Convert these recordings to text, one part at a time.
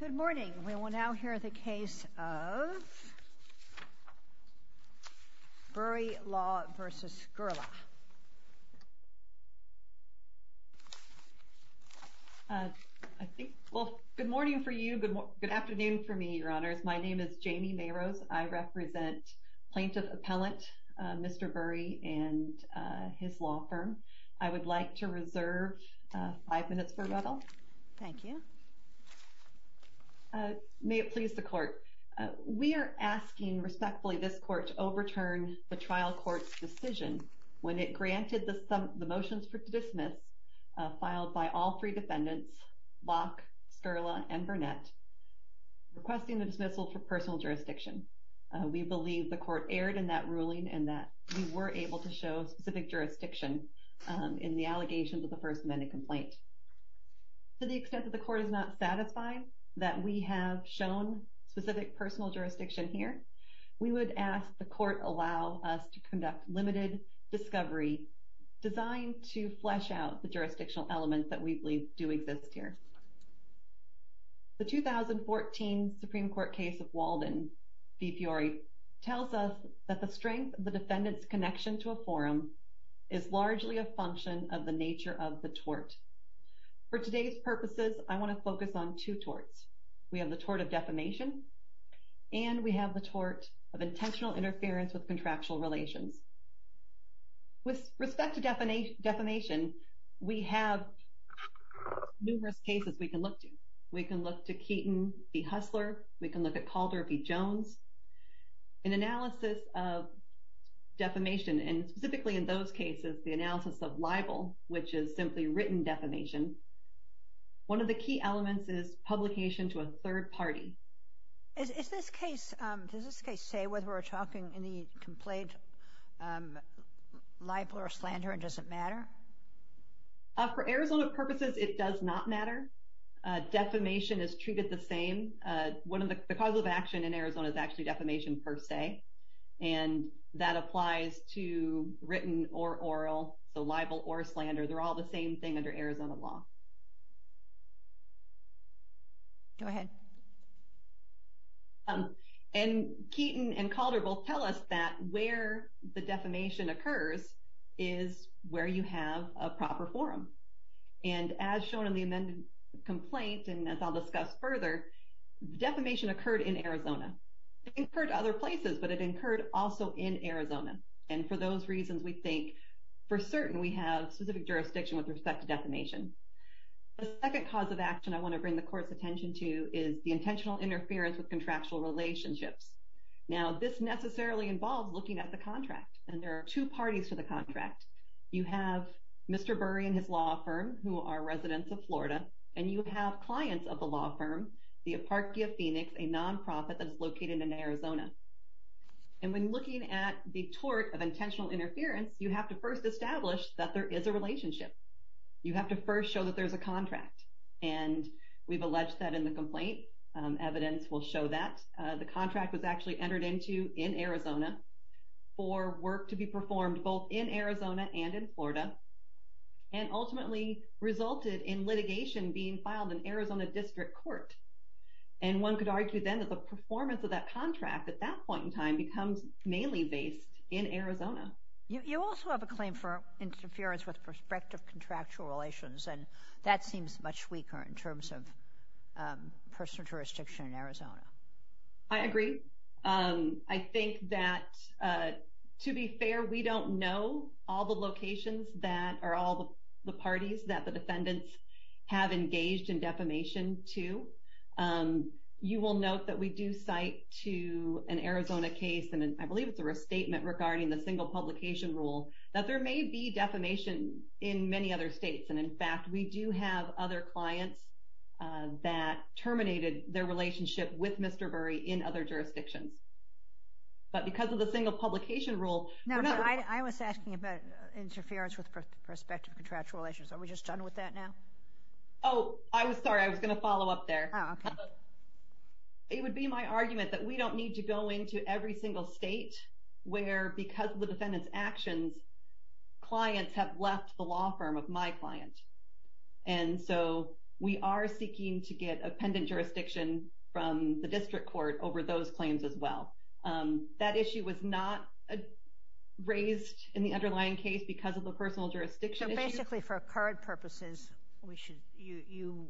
Good morning. We will now hear the case of Burri Law v. Skurla. Good morning for you. Good afternoon for me, Your Honors. My name is Jamie Mayrose. I represent Plaintiff Appellant Mr. Burri and his law firm. I would like to reserve five minutes for rebuttal. Thank you. May it please the court. We are asking respectfully this court to overturn the trial court's decision when it granted the motions for dismiss filed by all three defendants, Block, Skurla and Burnett, requesting the dismissal for personal jurisdiction. We believe the court erred in that ruling and that we were able to show specific jurisdiction in the allegations of the First Amendment complaint. To the extent that the court is not satisfied that we have shown specific personal jurisdiction here, we would ask the court allow us to conduct limited discovery designed to flesh out the jurisdictional elements that we believe do exist here. The 2014 Supreme Court case of Walden v. Fiore tells us that the strength of the defendant's connection to a forum is largely a function of the nature of the tort. For today's purposes, I want to focus on two torts. We have the tort of defamation and we have the tort of intentional interference with contractual relations. With respect to defamation, we have numerous cases we can look to. We can look to Keaton v. Hustler. We can look at Calder v. Jones. In analysis of defamation, and specifically in those cases, the analysis of libel, which is simply written defamation, one of the key elements is publication to a third party. Does this case say whether we're talking in the complaint libel or slander and does it matter? For Arizona purposes, it does not matter. Defamation is treated the same. One of the causes of action in Arizona is actually defamation per se, and that applies to written or oral, so libel or slander. They're all the same thing under Arizona law. Go ahead. And Keaton and Calder both tell us that where the defamation occurs is where you have a proper forum. And as shown in the amended complaint, and as I'll discuss further, defamation occurred in Arizona. It occurred other places, but it occurred also in Arizona. And for those reasons, we think for certain we have specific jurisdiction with respect to defamation. The second cause of action I want to bring the Court's attention to is the intentional interference with contractual relationships. Now, this necessarily involves looking at the contract, and there are two parties to the contract. You have Mr. Burry and his law firm, who are residents of Florida, and you have clients of the law firm, the Aparchy of Phoenix, a nonprofit that is located in Arizona. And when looking at the tort of intentional interference, you have to first establish that there is a relationship. You have to first show that there's a contract, and we've alleged that in the complaint. Evidence will show that. The contract was actually entered into in Arizona for work to be performed both in Arizona and in Florida, and ultimately resulted in litigation being filed in Arizona District Court. And one could argue then that the performance of that contract at that point in time becomes mainly based in Arizona. You also have a claim for interference with respect to contractual relations, and that seems much weaker in terms of personal jurisdiction in Arizona. I agree. I think that, to be fair, we don't know all the locations that are all the parties that the defendants have engaged in defamation to. You will note that we do cite to an Arizona case, and I believe it's a restatement regarding the single publication rule, that there may be defamation in many other states. And, in fact, we do have other clients that terminated their relationship with Mr. Burry in other jurisdictions. But because of the single publication rule— Now, I was asking about interference with respect to contractual relations. Are we just done with that now? Oh, I was sorry. I was going to follow up there. Oh, okay. It would be my argument that we don't need to go into every single state where, because of the defendant's actions, clients have left the law firm of my client. And so we are seeking to get appendant jurisdiction from the district court over those claims as well. That issue was not raised in the underlying case because of the personal jurisdiction issue. So, basically, for current purposes, you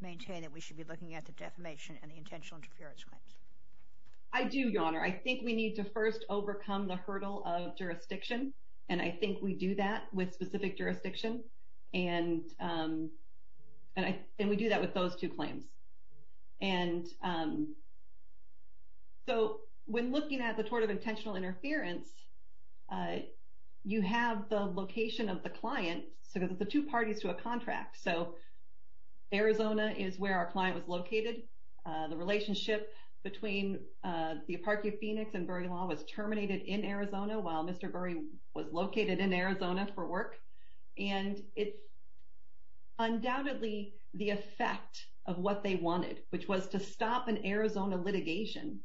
maintain that we should be looking at the defamation and the intentional interference claims? I do, Your Honor. I think we need to first overcome the hurdle of jurisdiction, and I think we do that with specific jurisdiction, and we do that with those two claims. So when looking at the tort of intentional interference, you have the location of the client, so the two parties to a contract. So Arizona is where our client was located. The relationship between the Aparchy of Phoenix and Burry Law was terminated in Arizona while Mr. Burry was located in Arizona for work. And it's undoubtedly the effect of what they wanted, which was to stop an Arizona litigation.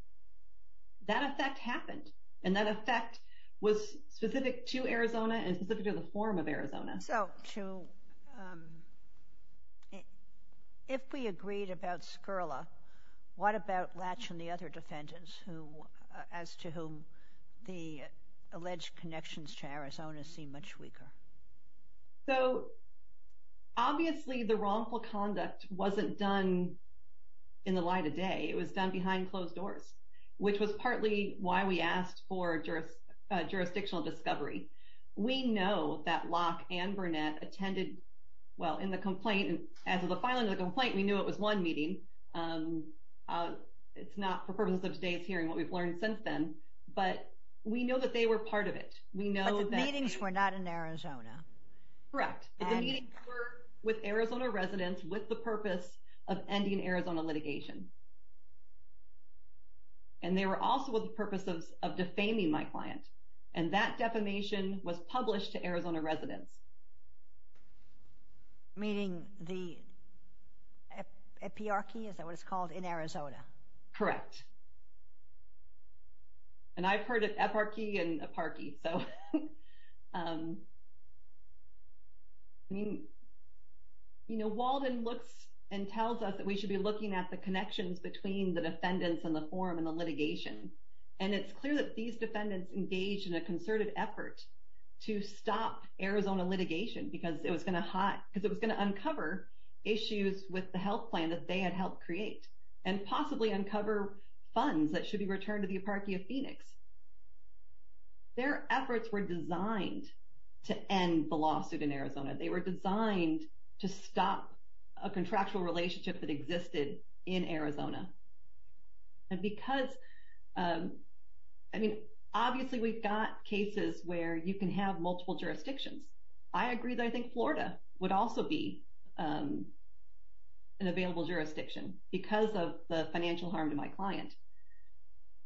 That effect happened, and that effect was specific to Arizona and specific to the form of Arizona. So, if we agreed about Skirla, what about Latch and the other defendants, as to whom the alleged connections to Arizona seem much weaker? So, obviously, the wrongful conduct wasn't done in the light of day. It was done behind closed doors, which was partly why we asked for jurisdictional discovery. We know that Locke and Burnett attended, well, in the complaint, as of the filing of the complaint, we knew it was one meeting. It's not for purposes of today's hearing what we've learned since then, but we know that they were part of it. But the meetings were not in Arizona. Correct. The meetings were with Arizona residents with the purpose of ending Arizona litigation, and they were also with the purpose of defaming my client. And that defamation was published to Arizona residents. Meaning the eparchy, is that what it's called, in Arizona? Correct. And I've heard of eparchy and aparchy, so... You know, Walden looks and tells us that we should be looking at the connections between the defendants and the form and the litigation. And it's clear that these defendants engaged in a concerted effort to stop Arizona litigation, because it was going to uncover issues with the health plan that they had helped create, and possibly uncover funds that should be returned to the aparchy of Phoenix. Their efforts were designed to end the lawsuit in Arizona. They were designed to stop a contractual relationship that existed in Arizona. And because, I mean, obviously we've got cases where you can have multiple jurisdictions. I agree that I think Florida would also be an available jurisdiction, because of the financial harm to my client.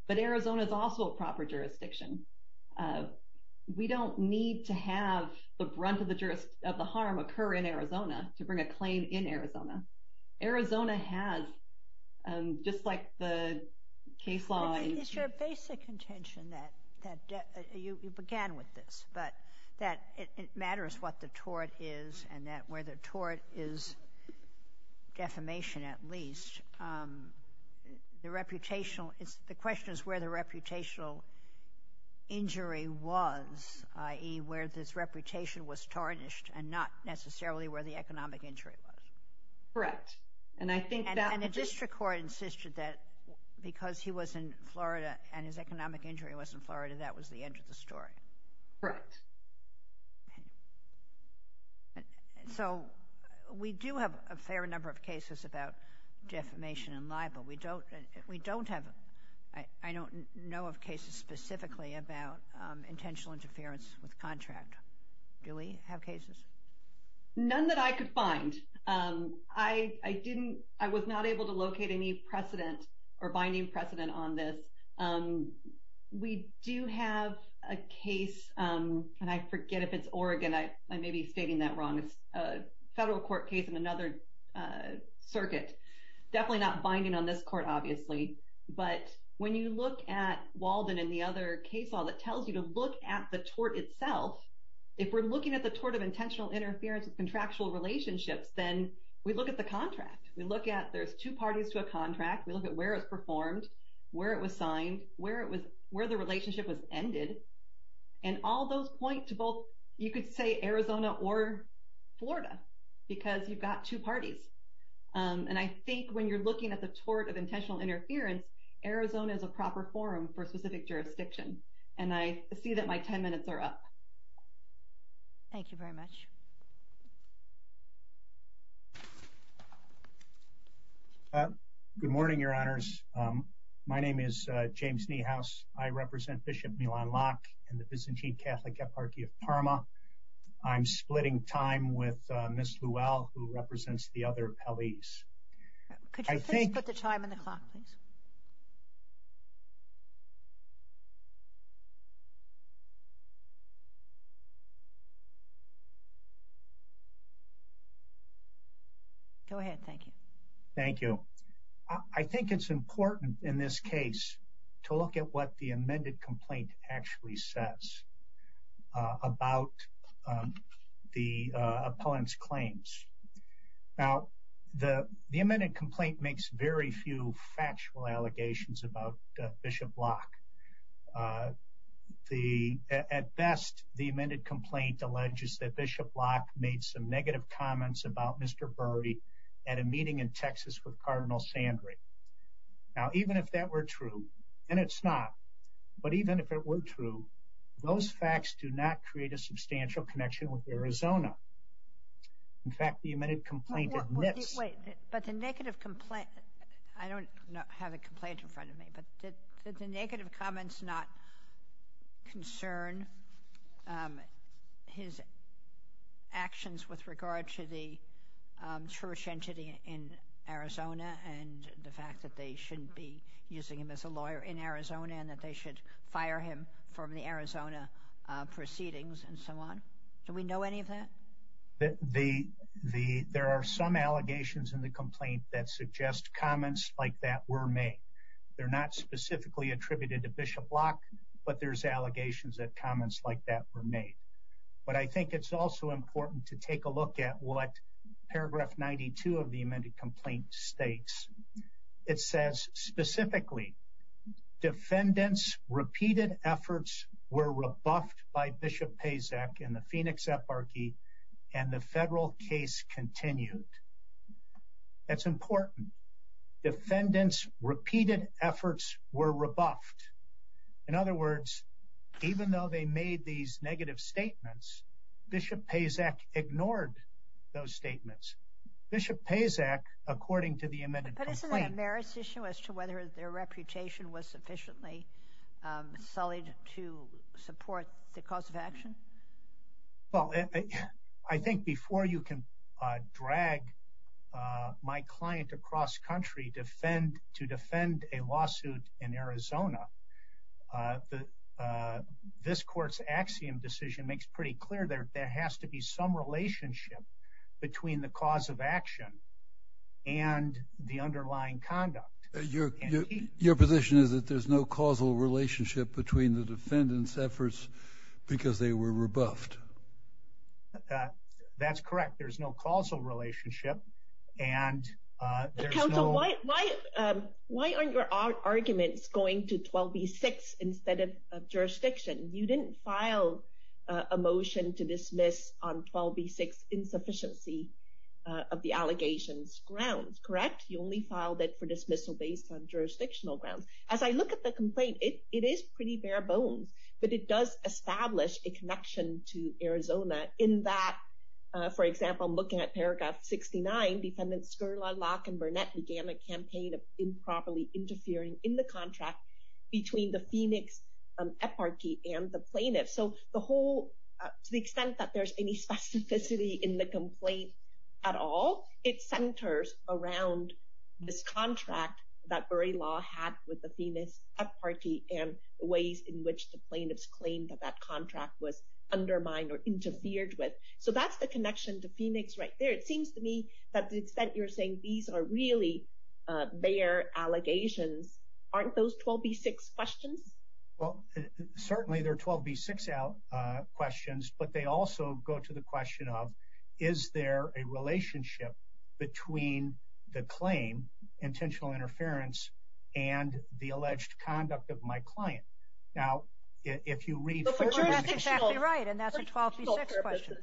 But Arizona is also a proper jurisdiction. We don't need to have the brunt of the harm occur in Arizona to bring a claim in Arizona. Arizona has, just like the case law... It's your basic intention that you began with this, but that it matters what the tort is and that where the tort is, defamation at least. The question is where the reputational injury was, i.e. where this reputation was tarnished, and not necessarily where the economic injury was. Correct. And I think that... And the district court insisted that because he was in Florida and his economic injury was in Florida, that was the end of the story. Correct. So we do have a fair number of cases about defamation and libel. We don't have... I don't know of cases specifically about intentional interference with contract. Do we have cases? None that I could find. I was not able to locate any precedent or binding precedent on this. We do have a case... And I forget if it's Oregon. I may be stating that wrong. It's a federal court case in another circuit. Definitely not binding on this court, obviously. But when you look at Walden and the other case law that tells you to look at the tort itself, if we're looking at the tort of intentional interference with contractual relationships, then we look at the contract. We look at there's two parties to a contract. We look at where it was performed, where it was signed, where the relationship was ended. And all those point to both... You could say Arizona or Florida because you've got two parties. And I think when you're looking at the tort of intentional interference, Arizona is a proper forum for a specific jurisdiction. And I see that my ten minutes are up. Thank you very much. Good morning, Your Honors. My name is James Niehaus. I represent Bishop Milan Locke in the Byzantine Catholic Eparchy of Parma. I'm splitting time with Ms. Llewell who represents the other appellees. Could you please put the time on the clock, please? Go ahead. Thank you. Thank you. I think it's important in this case to look at what the amended complaint actually says about the appellant's claims. Now, the amended complaint makes very few factual allegations about Bishop Locke. At best, the amended complaint alleges that Bishop Locke made some negative comments about Mr. Burry at a meeting in Texas with Cardinal Sandry. Now, even if that were true, and it's not, but even if it were true, those facts do not create a substantial connection with Arizona. In fact, the amended complaint admits. Wait, but the negative complaint, I don't have a complaint in front of me, but did the negative comments not concern his actions with regard to the church entity in Arizona and the fact that they shouldn't be using him as a lawyer in Arizona and that they should fire him from the Arizona proceedings and so on? Do we know any of that? There are some allegations in the complaint that suggest comments like that were made. They're not specifically attributed to Bishop Locke, but there's allegations that comments like that were made. But I think it's also important to take a look at what paragraph 92 of the amended complaint states. It says specifically, defendants' repeated efforts were rebuffed by Bishop Pacek in the Phoenix Eparchy and the federal case continued. That's important. Defendants' repeated efforts were rebuffed. In other words, even though they made these negative statements, Bishop Pacek ignored those statements. Bishop Pacek, according to the amended complaint- But isn't that a merits issue as to whether their reputation was sufficiently sullied to support the cause of action? Well, I think before you can drag my client across country to defend a lawsuit in Arizona, this court's axiom decision makes pretty clear there has to be some relationship between the cause of action and the underlying conduct. Your position is that there's no causal relationship between the defendants' efforts because they were rebuffed. That's correct. There's no causal relationship. Counsel, why aren't your arguments going to 12b-6 instead of jurisdiction? You didn't file a motion to dismiss on 12b-6 insufficiency of the allegations grounds, correct? You only filed it for dismissal based on jurisdictional grounds. As I look at the complaint, it is pretty bare bones. But it does establish a connection to Arizona in that, for example, looking at paragraph 69, defendants Scurla, Locke, and Burnett began a campaign of improperly interfering in the contract between the Phoenix Eparchy and the plaintiff. So to the extent that there's any specificity in the complaint at all, it centers around this contract that Bury Law had with the Phoenix Eparchy and the ways in which the plaintiffs claimed that that contract was undermined or interfered with. So that's the connection to Phoenix right there. It seems to me that to the extent you're saying these are really bare allegations, aren't those 12b-6 questions? Well, certainly they're 12b-6 questions, but they also go to the question of is there a relationship between the claim, intentional interference, and the alleged conduct of my client? Now, if you read further... That's exactly right, and that's a 12b-6 question.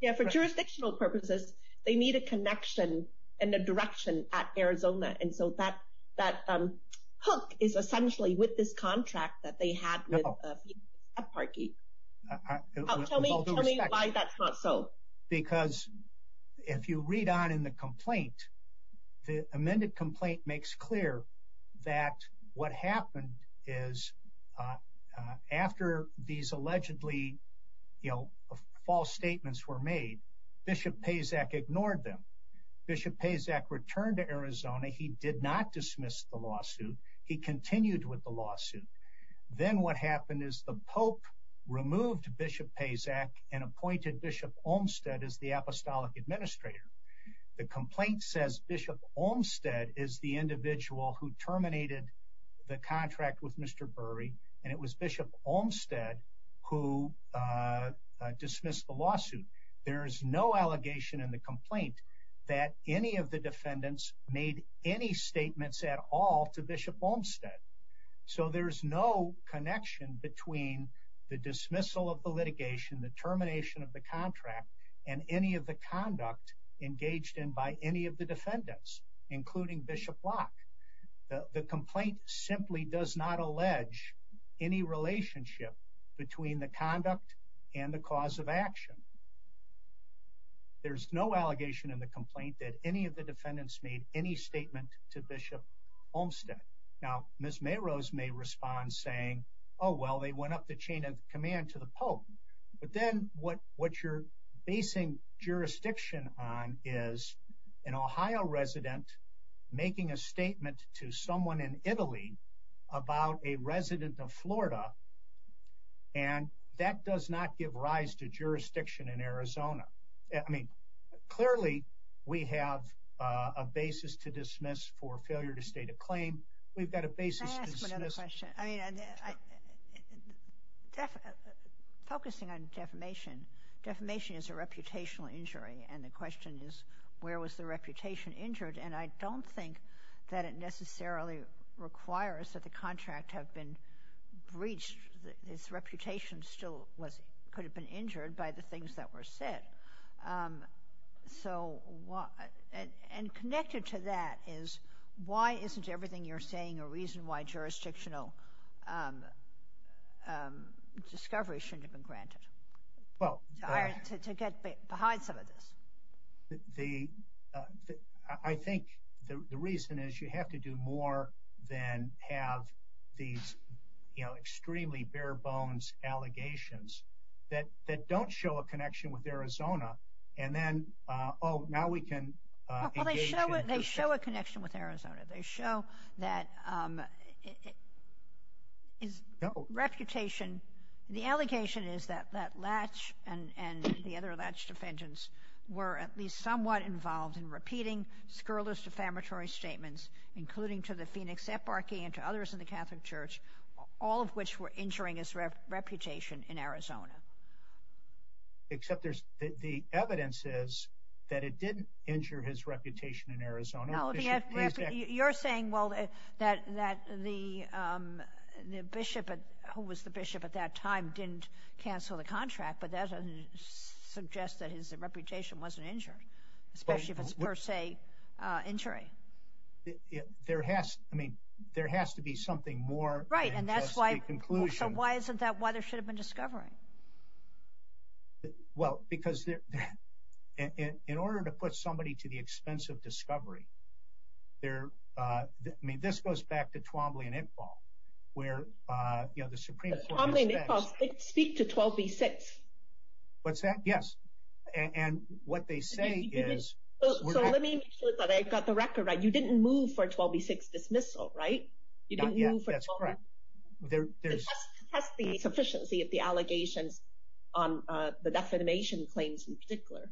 Yeah, for jurisdictional purposes, they need a connection and a direction at Arizona. And so that hook is essentially with this contract that they had with the Phoenix Eparchy. Tell me why that's not so. Because if you read on in the complaint, the amended complaint makes clear that what happened is after these allegedly false statements were made, Bishop Pazak ignored them. Bishop Pazak returned to Arizona. He did not dismiss the lawsuit. He continued with the lawsuit. Then what happened is the Pope removed Bishop Pazak and appointed Bishop Olmsted as the Apostolic Administrator. The complaint says Bishop Olmsted is the individual who terminated the contract with Mr. Burry, and it was Bishop Olmsted who dismissed the lawsuit. There is no allegation in the complaint that any of the defendants made any statements at all to Bishop Olmsted. So there's no connection between the dismissal of the litigation, the termination of the contract, and any of the conduct engaged in by any of the defendants, including Bishop Locke. The complaint simply does not allege any relationship between the conduct and the cause of action. There's no allegation in the complaint that any of the defendants made any statement to Bishop Olmsted. Now, Ms. Mayrose may respond saying, oh, well, they went up the chain of command to the Pope. But then what you're basing jurisdiction on is an Ohio resident making a statement to someone in Italy about a resident of Florida, and that does not give rise to jurisdiction in Arizona. Clearly, we have a basis to dismiss for failure to state a claim. We've got a basis to dismiss. Can I ask one other question? Focusing on defamation, defamation is a reputational injury, and the question is, where was the reputation injured? And I don't think that it necessarily requires that the contract have been breached. Its reputation still could have been injured by the things that were said. And connected to that is, why isn't everything you're saying a reason why jurisdictional discovery shouldn't have been granted? To get behind some of this. I think the reason is you have to do more than have these, you know, extremely bare bones allegations that don't show a connection with Arizona. And then, oh, now we can engage in- Well, they show a connection with Arizona. They show that his reputation, the allegation is that Latch and the other Latch defendants were at least somewhat involved in repeating scurrilous defamatory statements, including to the Phoenix Eparchy and to others in the Catholic Church, all of which were injuring his reputation in Arizona. Except there's, the evidence is that it didn't injure his reputation in Arizona. You're saying, well, that the bishop, who was the bishop at that time, didn't cancel the contract, but that doesn't suggest that his reputation wasn't injured, especially if it's per se injury. There has to be something more than just the conclusion. Right, and that's why, so why isn't that why there should have been discovery? Well, because in order to put somebody to the expense of discovery, there, I mean, this goes back to Twombly and Iqbal, where, you know, the Supreme Court- Twombly and Iqbal speak to 12b-6. What's that? Yes. And what they say is- So let me make sure that I've got the record right. You didn't move for 12b-6 dismissal, right? Not yet, that's correct. It has to have the sufficiency of the allegations on the defamation claims in particular.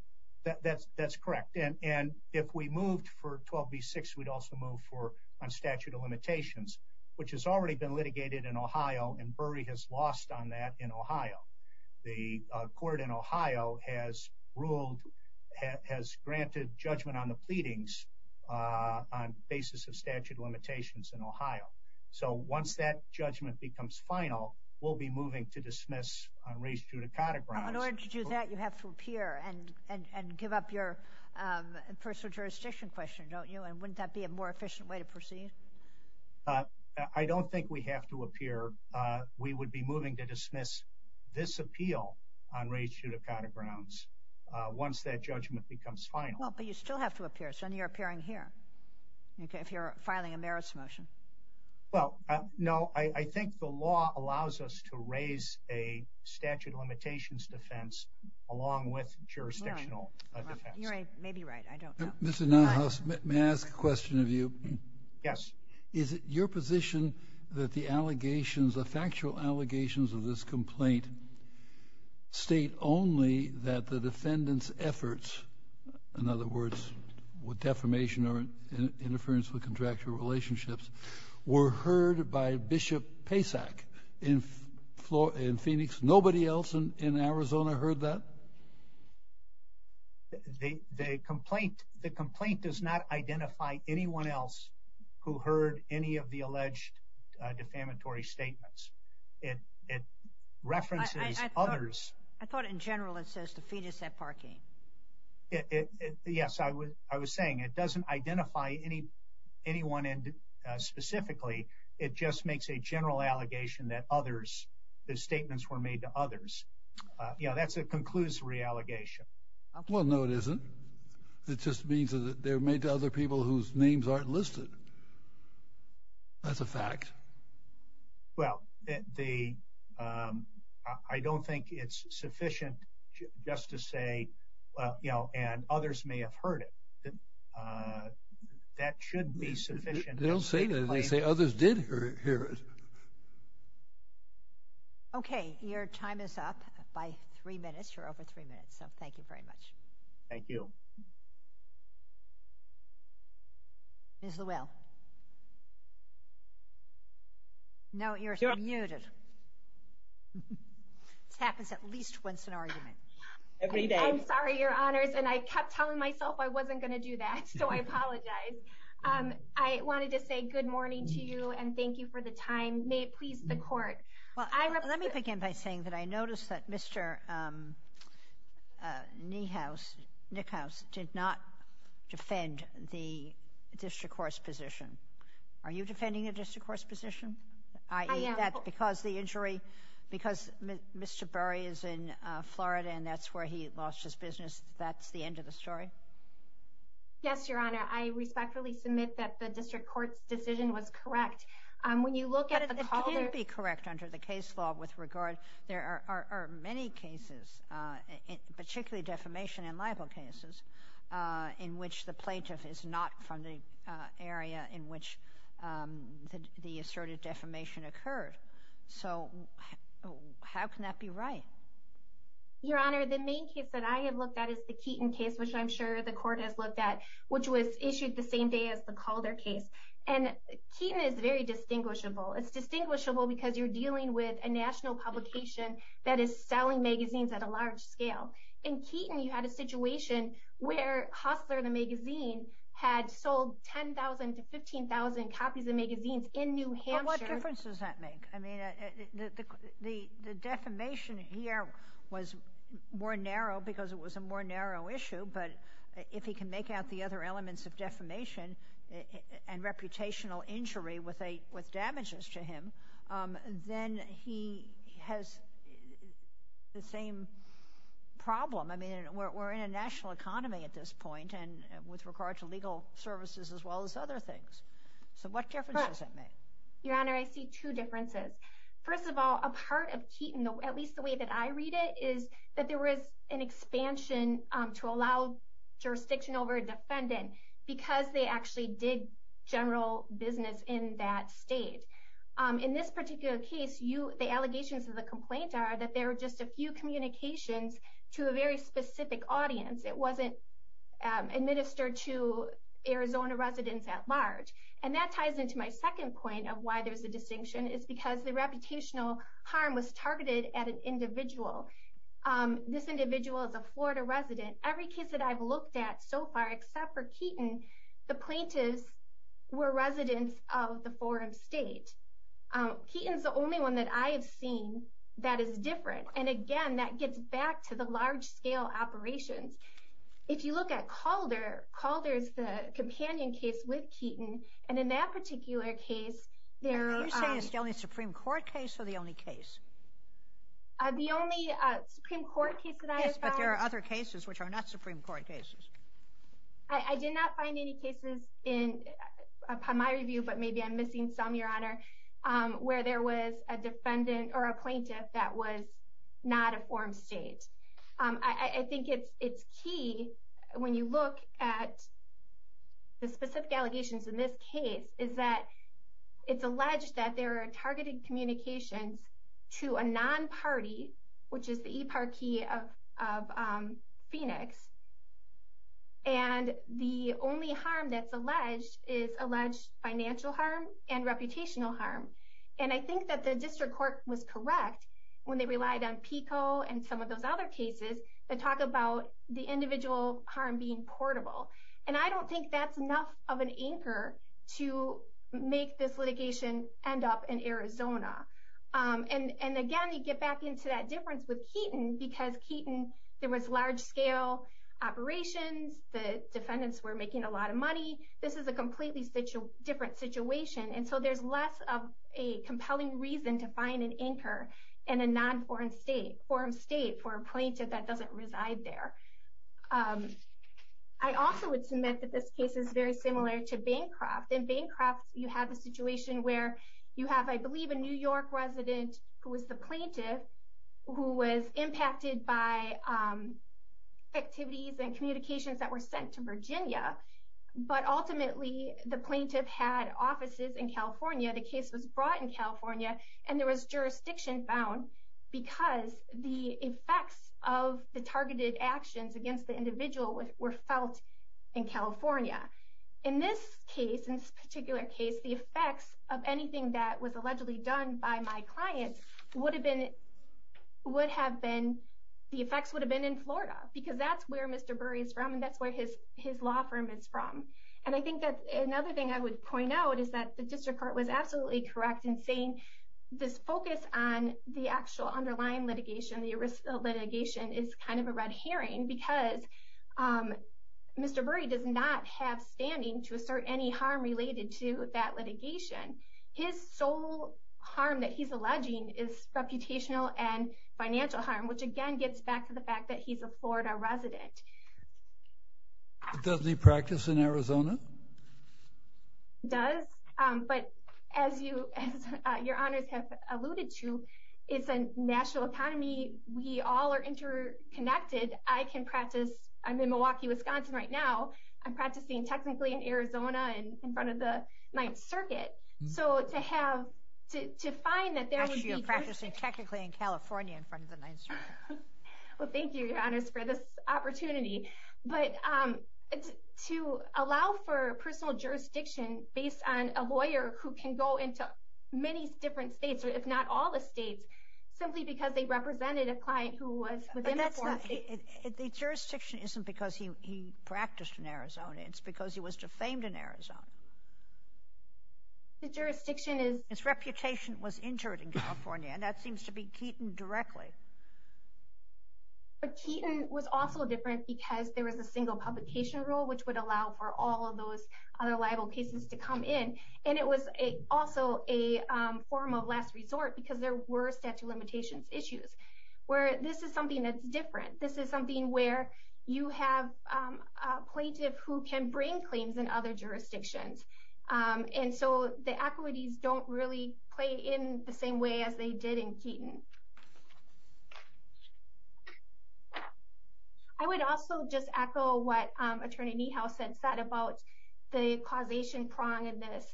That's correct. And if we moved for 12b-6, we'd also move for a statute of limitations, which has already been litigated in Ohio, and Bury has lost on that in Ohio. The court in Ohio has ruled, has granted judgment on the pleadings on the basis of statute of limitations in Ohio. So once that judgment becomes final, we'll be moving to dismiss on reis judicata grounds. In order to do that, you have to appear and give up your personal jurisdiction question, don't you? And wouldn't that be a more efficient way to proceed? I don't think we have to appear. We would be moving to dismiss this appeal on reis judicata grounds once that judgment becomes final. Well, but you still have to appear, so then you're appearing here, if you're filing a merits motion. Well, no, I think the law allows us to raise a statute of limitations defense along with jurisdictional defense. You may be right, I don't know. Mr. Nauhaus, may I ask a question of you? Yes. Is it your position that the allegations, the factual allegations of this complaint state only that the defendant's efforts, in other words, with defamation or interference with contractual relationships, were heard by Bishop Pacek in Phoenix? Nobody else in Arizona heard that? The complaint does not identify anyone else who heard any of the alleged defamatory statements. It references others. I thought in general it says to feed us that parking. Yes, I was saying it doesn't identify anyone specifically. It just makes a general allegation that others, the statements were made to others. You know, that's a conclusory allegation. Well, no, it isn't. It just means that they were made to other people whose names aren't listed. That's a fact. Well, I don't think it's sufficient just to say, you know, and others may have heard it. That shouldn't be sufficient. They don't say that. They say others did hear it. Okay. Your time is up by three minutes. You're over three minutes, so thank you very much. Thank you. Ms. Luell. No, you're muted. This happens at least once an argument. Every day. I'm sorry, Your Honors, and I kept telling myself I wasn't going to do that, so I apologize. I wanted to say good morning to you and thank you for the time. May it please the court. Well, let me begin by saying that I noticed that Mr. Niehaus, Nickhaus, did not defend the district court's position. Are you defending the district court's position? I am. Because the injury, because Mr. Burry is in Florida and that's where he lost his business, that's the end of the story? Yes, Your Honor. I respectfully submit that the district court's decision was correct. When you look at the callers… But it can't be correct under the case law with regard. There are many cases, particularly defamation and libel cases, in which the plaintiff is not from the area in which the asserted defamation occurred. So how can that be right? Your Honor, the main case that I have looked at is the Keaton case, which I'm sure the court has looked at, which was issued the same day as the Calder case. And Keaton is very distinguishable. It's distinguishable because you're dealing with a national publication that is selling magazines at a large scale. In Keaton, you had a situation where Hustler, the magazine, had sold 10,000 to 15,000 copies of magazines in New Hampshire. Well, what difference does that make? I mean, the defamation here was more narrow because it was a more narrow issue. But if he can make out the other elements of defamation and reputational injury with damages to him, then he has the same problem. I mean, we're in a national economy at this point with regard to legal services as well as other things. So what difference does that make? Your Honor, I see two differences. First of all, a part of Keaton, at least the way that I read it, is that there was an expansion to allow jurisdiction over a defendant because they actually did general business in that state. In this particular case, the allegations of the complaint are that there were just a few communications to a very specific audience. It wasn't administered to Arizona residents at large. And that ties into my second point of why there's a distinction. It's because the reputational harm was targeted at an individual. This individual is a Florida resident. Every case that I've looked at so far, except for Keaton, the plaintiffs were residents of the forum state. Keaton's the only one that I have seen that is different. And again, that gets back to the large-scale operations. If you look at Calder, Calder is the companion case with Keaton. And in that particular case, there are... Are you saying it's the only Supreme Court case or the only case? The only Supreme Court case that I have found... Yes, but there are other cases which are not Supreme Court cases. I did not find any cases in my review, but maybe I'm missing some, Your Honor, where there was a defendant or a plaintiff that was not a forum state. I think it's key, when you look at the specific allegations in this case, is that it's alleged that there are targeted communications to a non-party, which is the eParkey of Phoenix. And the only harm that's alleged is alleged financial harm and reputational harm. And I think that the district court was correct when they relied on PICO and some of those other cases that talk about the individual harm being portable. And I don't think that's enough of an anchor to make this litigation end up in Arizona. And again, you get back into that difference with Keaton, because Keaton, there was large-scale operations, the defendants were making a lot of money. This is a completely different situation, and so there's less of a compelling reason to find an anchor in a non-forum state for a plaintiff that doesn't reside there. I also would submit that this case is very similar to Bancroft. In Bancroft, you have a situation where you have, I believe, a New York resident who was the plaintiff who was impacted by activities and communications that were sent to Virginia. But ultimately, the plaintiff had offices in California, the case was brought in California, and there was jurisdiction found because the effects of the targeted actions against the individual were felt in California. In this particular case, the effects of anything that was allegedly done by my client would have been in Florida, because that's where Mr. Burry is from and that's where his law firm is from. And I think that another thing I would point out is that the district court was absolutely correct in saying this focus on the actual underlying litigation, the arrest of litigation, is kind of a red herring, because Mr. Burry does not have standing to assert any harm related to that litigation. His sole harm that he's alleging is reputational and financial harm, which again gets back to the fact that he's a Florida resident. Does he practice in Arizona? Does, but as your honors have alluded to, it's a national economy, we all are interconnected. I can practice, I'm in Milwaukee, Wisconsin right now, I'm practicing technically in Arizona in front of the Ninth Circuit. So to have, to find that there would be... Actually, you're practicing technically in California in front of the Ninth Circuit. Well, thank you, your honors, for this opportunity. But to allow for personal jurisdiction based on a lawyer who can go into many different states, if not all the states, simply because they represented a client who was within the... But that's not, the jurisdiction isn't because he practiced in Arizona, it's because he was defamed in Arizona. The jurisdiction is... His reputation was injured in California, and that seems to be Keaton directly. But Keaton was also different because there was a single publication rule which would allow for all of those other liable cases to come in. And it was also a form of last resort because there were statute of limitations issues where this is something that's different. This is something where you have a plaintiff who can bring claims in other jurisdictions. And so the equities don't really play in the same way as they did in Keaton. I would also just echo what Attorney Niehaus had said about the causation prong in this.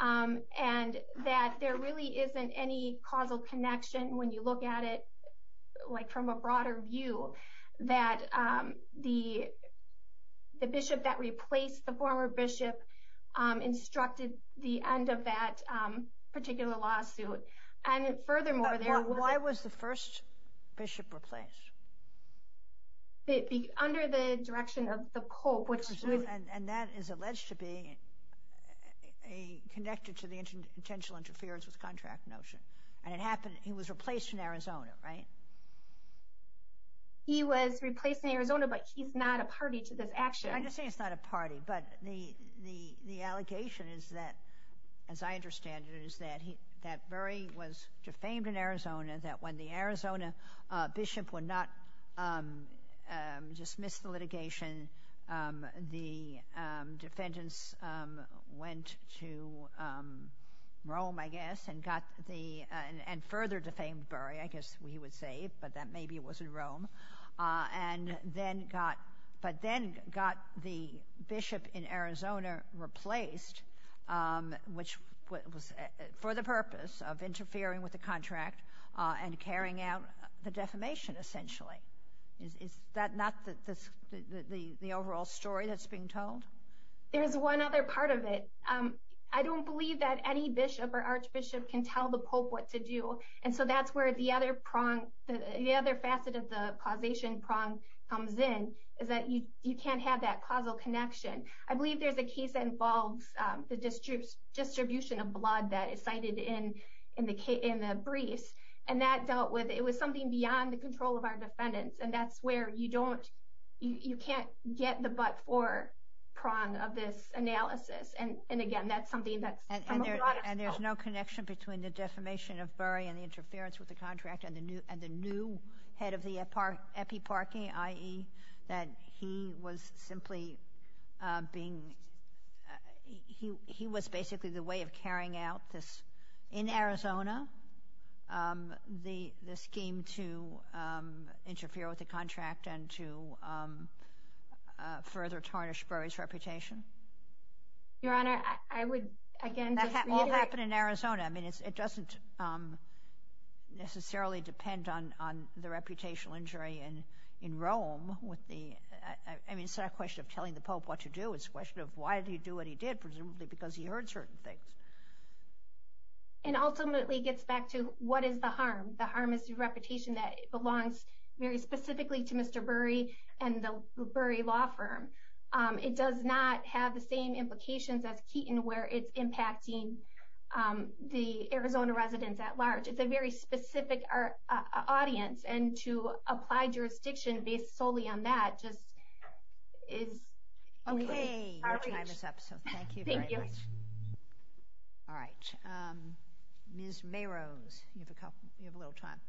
And that there really isn't any causal connection when you look at it from a broader view that the bishop that replaced the former bishop instructed the end of that particular lawsuit. And furthermore... Why was the first bishop replaced? Under the direction of the pope, which... And that is alleged to be connected to the intentional interference with contract notion. And it happened... He was replaced in Arizona, right? He was replaced in Arizona, but he's not a party to this action. I'm just saying he's not a party. But the allegation is that, as I understand it, is that Bury was defamed in Arizona. That when the Arizona bishop would not dismiss the litigation, the defendants went to Rome, I guess, and got the... And further defamed Bury, I guess we would say, but that maybe it wasn't Rome. But then got the bishop in Arizona replaced, which was for the purpose of interfering with the contract and carrying out the defamation, essentially. Is that not the overall story that's being told? There's one other part of it. I don't believe that any bishop or archbishop can tell the pope what to do. And so that's where the other facet of the causation prong comes in, is that you can't have that causal connection. I believe there's a case that involves the distribution of blood that is cited in the briefs. And that dealt with... It was something beyond the control of our defendants. And that's where you don't... You can't get the but-for prong of this analysis. And again, that's something that's... And there's no connection between the defamation of Bury and the interference with the contract and the new head of the epiparchy, i.e., that he was simply being... He was basically the way of carrying out this, in Arizona, the scheme to interfere with the contract and to further tarnish Bury's reputation? Your Honor, I would, again, just reiterate... That all happened in Arizona. I mean, it doesn't necessarily depend on the reputational injury in Rome with the... I mean, it's not a question of telling the pope what to do. It's a question of why did he do what he did, presumably because he heard certain things. And ultimately, it gets back to what is the harm. The harm is the reputation that belongs very specifically to Mr. Bury and the Bury law firm. It does not have the same implications as Keaton where it's impacting the Arizona residents at large. It's a very specific audience. And to apply jurisdiction based solely on that just is... Okay. Your time is up, so thank you very much. Thank you. All right. Ms. Meros, you have a little time.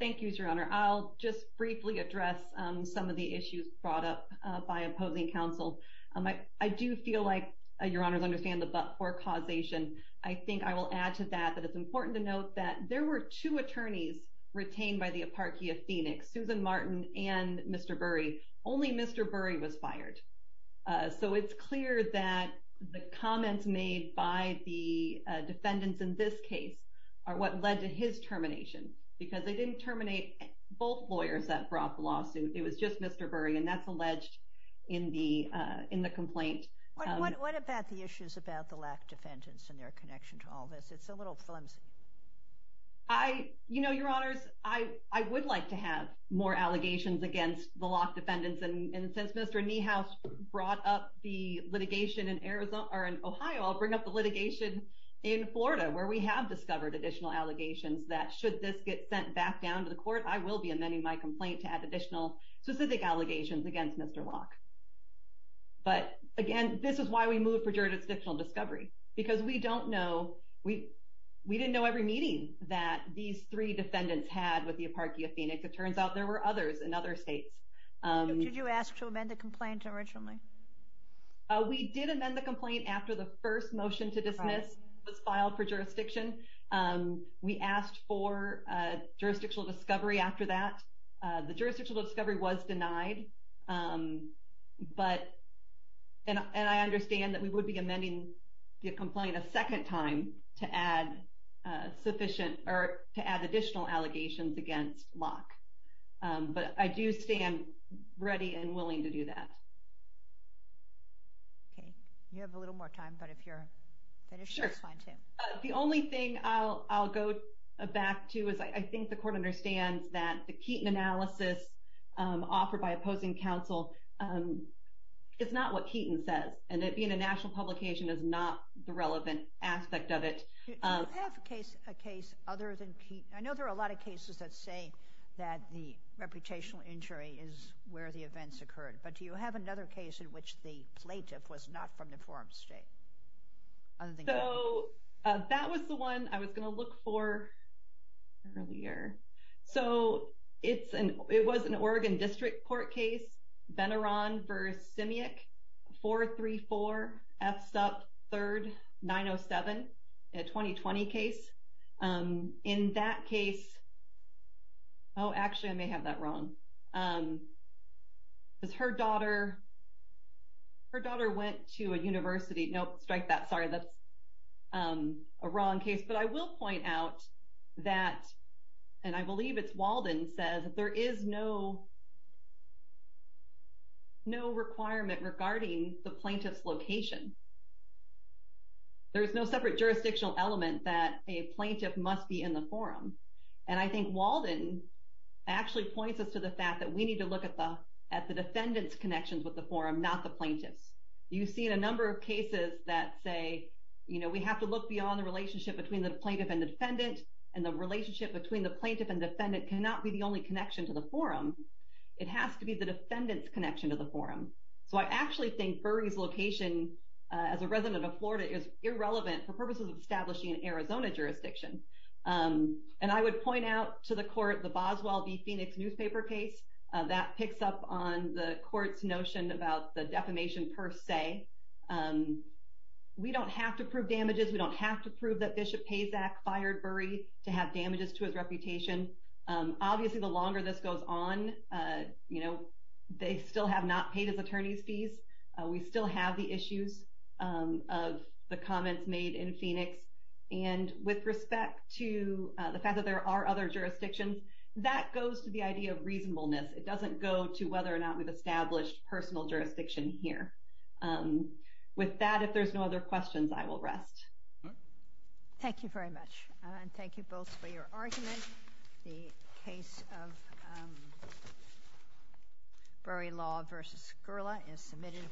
Thank you, Your Honor. I'll just briefly address some of the issues brought up by opposing counsel. I do feel like, Your Honor, I understand the but-for causation. I think I will add to that that it's important to note that there were two attorneys retained by the Apartheid Phoenix, Susan Martin and Mr. Bury. So it's clear that the comments made by the defendants in this case are what led to his termination, because they didn't terminate both lawyers that brought the lawsuit. It was just Mr. Bury, and that's alleged in the complaint. What about the issues about the Locke defendants and their connection to all this? It's a little flimsy. You know, Your Honors, I would like to have more allegations against the Locke defendants. And since Mr. Niehaus brought up the litigation in Ohio, I'll bring up the litigation in Florida, where we have discovered additional allegations that should this get sent back down to the court, I will be amending my complaint to add additional specific allegations against Mr. Locke. But, again, this is why we moved for jurisdictional discovery, because we didn't know every meeting that these three defendants had with the Apartheid Phoenix. It turns out there were others in other states. Did you ask to amend the complaint originally? We did amend the complaint after the first motion to dismiss was filed for jurisdiction. We asked for jurisdictional discovery after that. The jurisdictional discovery was denied. And I understand that we would be amending the complaint a second time to add sufficient or to add additional allegations against Locke. But I do stand ready and willing to do that. Okay. You have a little more time, but if you're finished, that's fine, too. Sure. The only thing I'll go back to is I think the court understands that the Keaton analysis offered by opposing counsel is not what Keaton says, and that being a national publication is not the relevant aspect of it. Do you have a case other than Keaton? I know there are a lot of cases that say that the reputational injury is where the events occurred. But do you have another case in which the plaintiff was not from the forum state? So that was the one I was going to look for earlier. So it was an Oregon District Court case, Benaron v. Simiak, 434 F. Supp. 3rd, 907. A 2020 case. In that case, oh, actually, I may have that wrong. Because her daughter went to a university. Nope, strike that. Sorry, that's a wrong case. But I will point out that, and I believe it's Walden says, there is no requirement regarding the plaintiff's location. There is no separate jurisdictional element that a plaintiff must be in the forum. And I think Walden actually points us to the fact that we need to look at the defendant's connections with the forum, not the plaintiff's. You see in a number of cases that say, you know, we have to look beyond the relationship between the plaintiff and defendant, and the relationship between the plaintiff and defendant cannot be the only connection to the forum. It has to be the defendant's connection to the forum. So I actually think Burry's location, as a resident of Florida, is irrelevant for purposes of establishing an Arizona jurisdiction. And I would point out to the court the Boswell v. Phoenix newspaper case. That picks up on the court's notion about the defamation per se. We don't have to prove damages. We don't have to prove that Bishop Pazak fired Burry to have damages to his reputation. Obviously, the longer this goes on, you know, they still have not paid his attorney's fees. We still have the issues of the comments made in Phoenix. And with respect to the fact that there are other jurisdictions, that goes to the idea of reasonableness. It doesn't go to whether or not we've established personal jurisdiction here. With that, if there's no other questions, I will rest. Thank you very much. And thank you both for your argument. The case of Burry Law v. Gerla is submitted.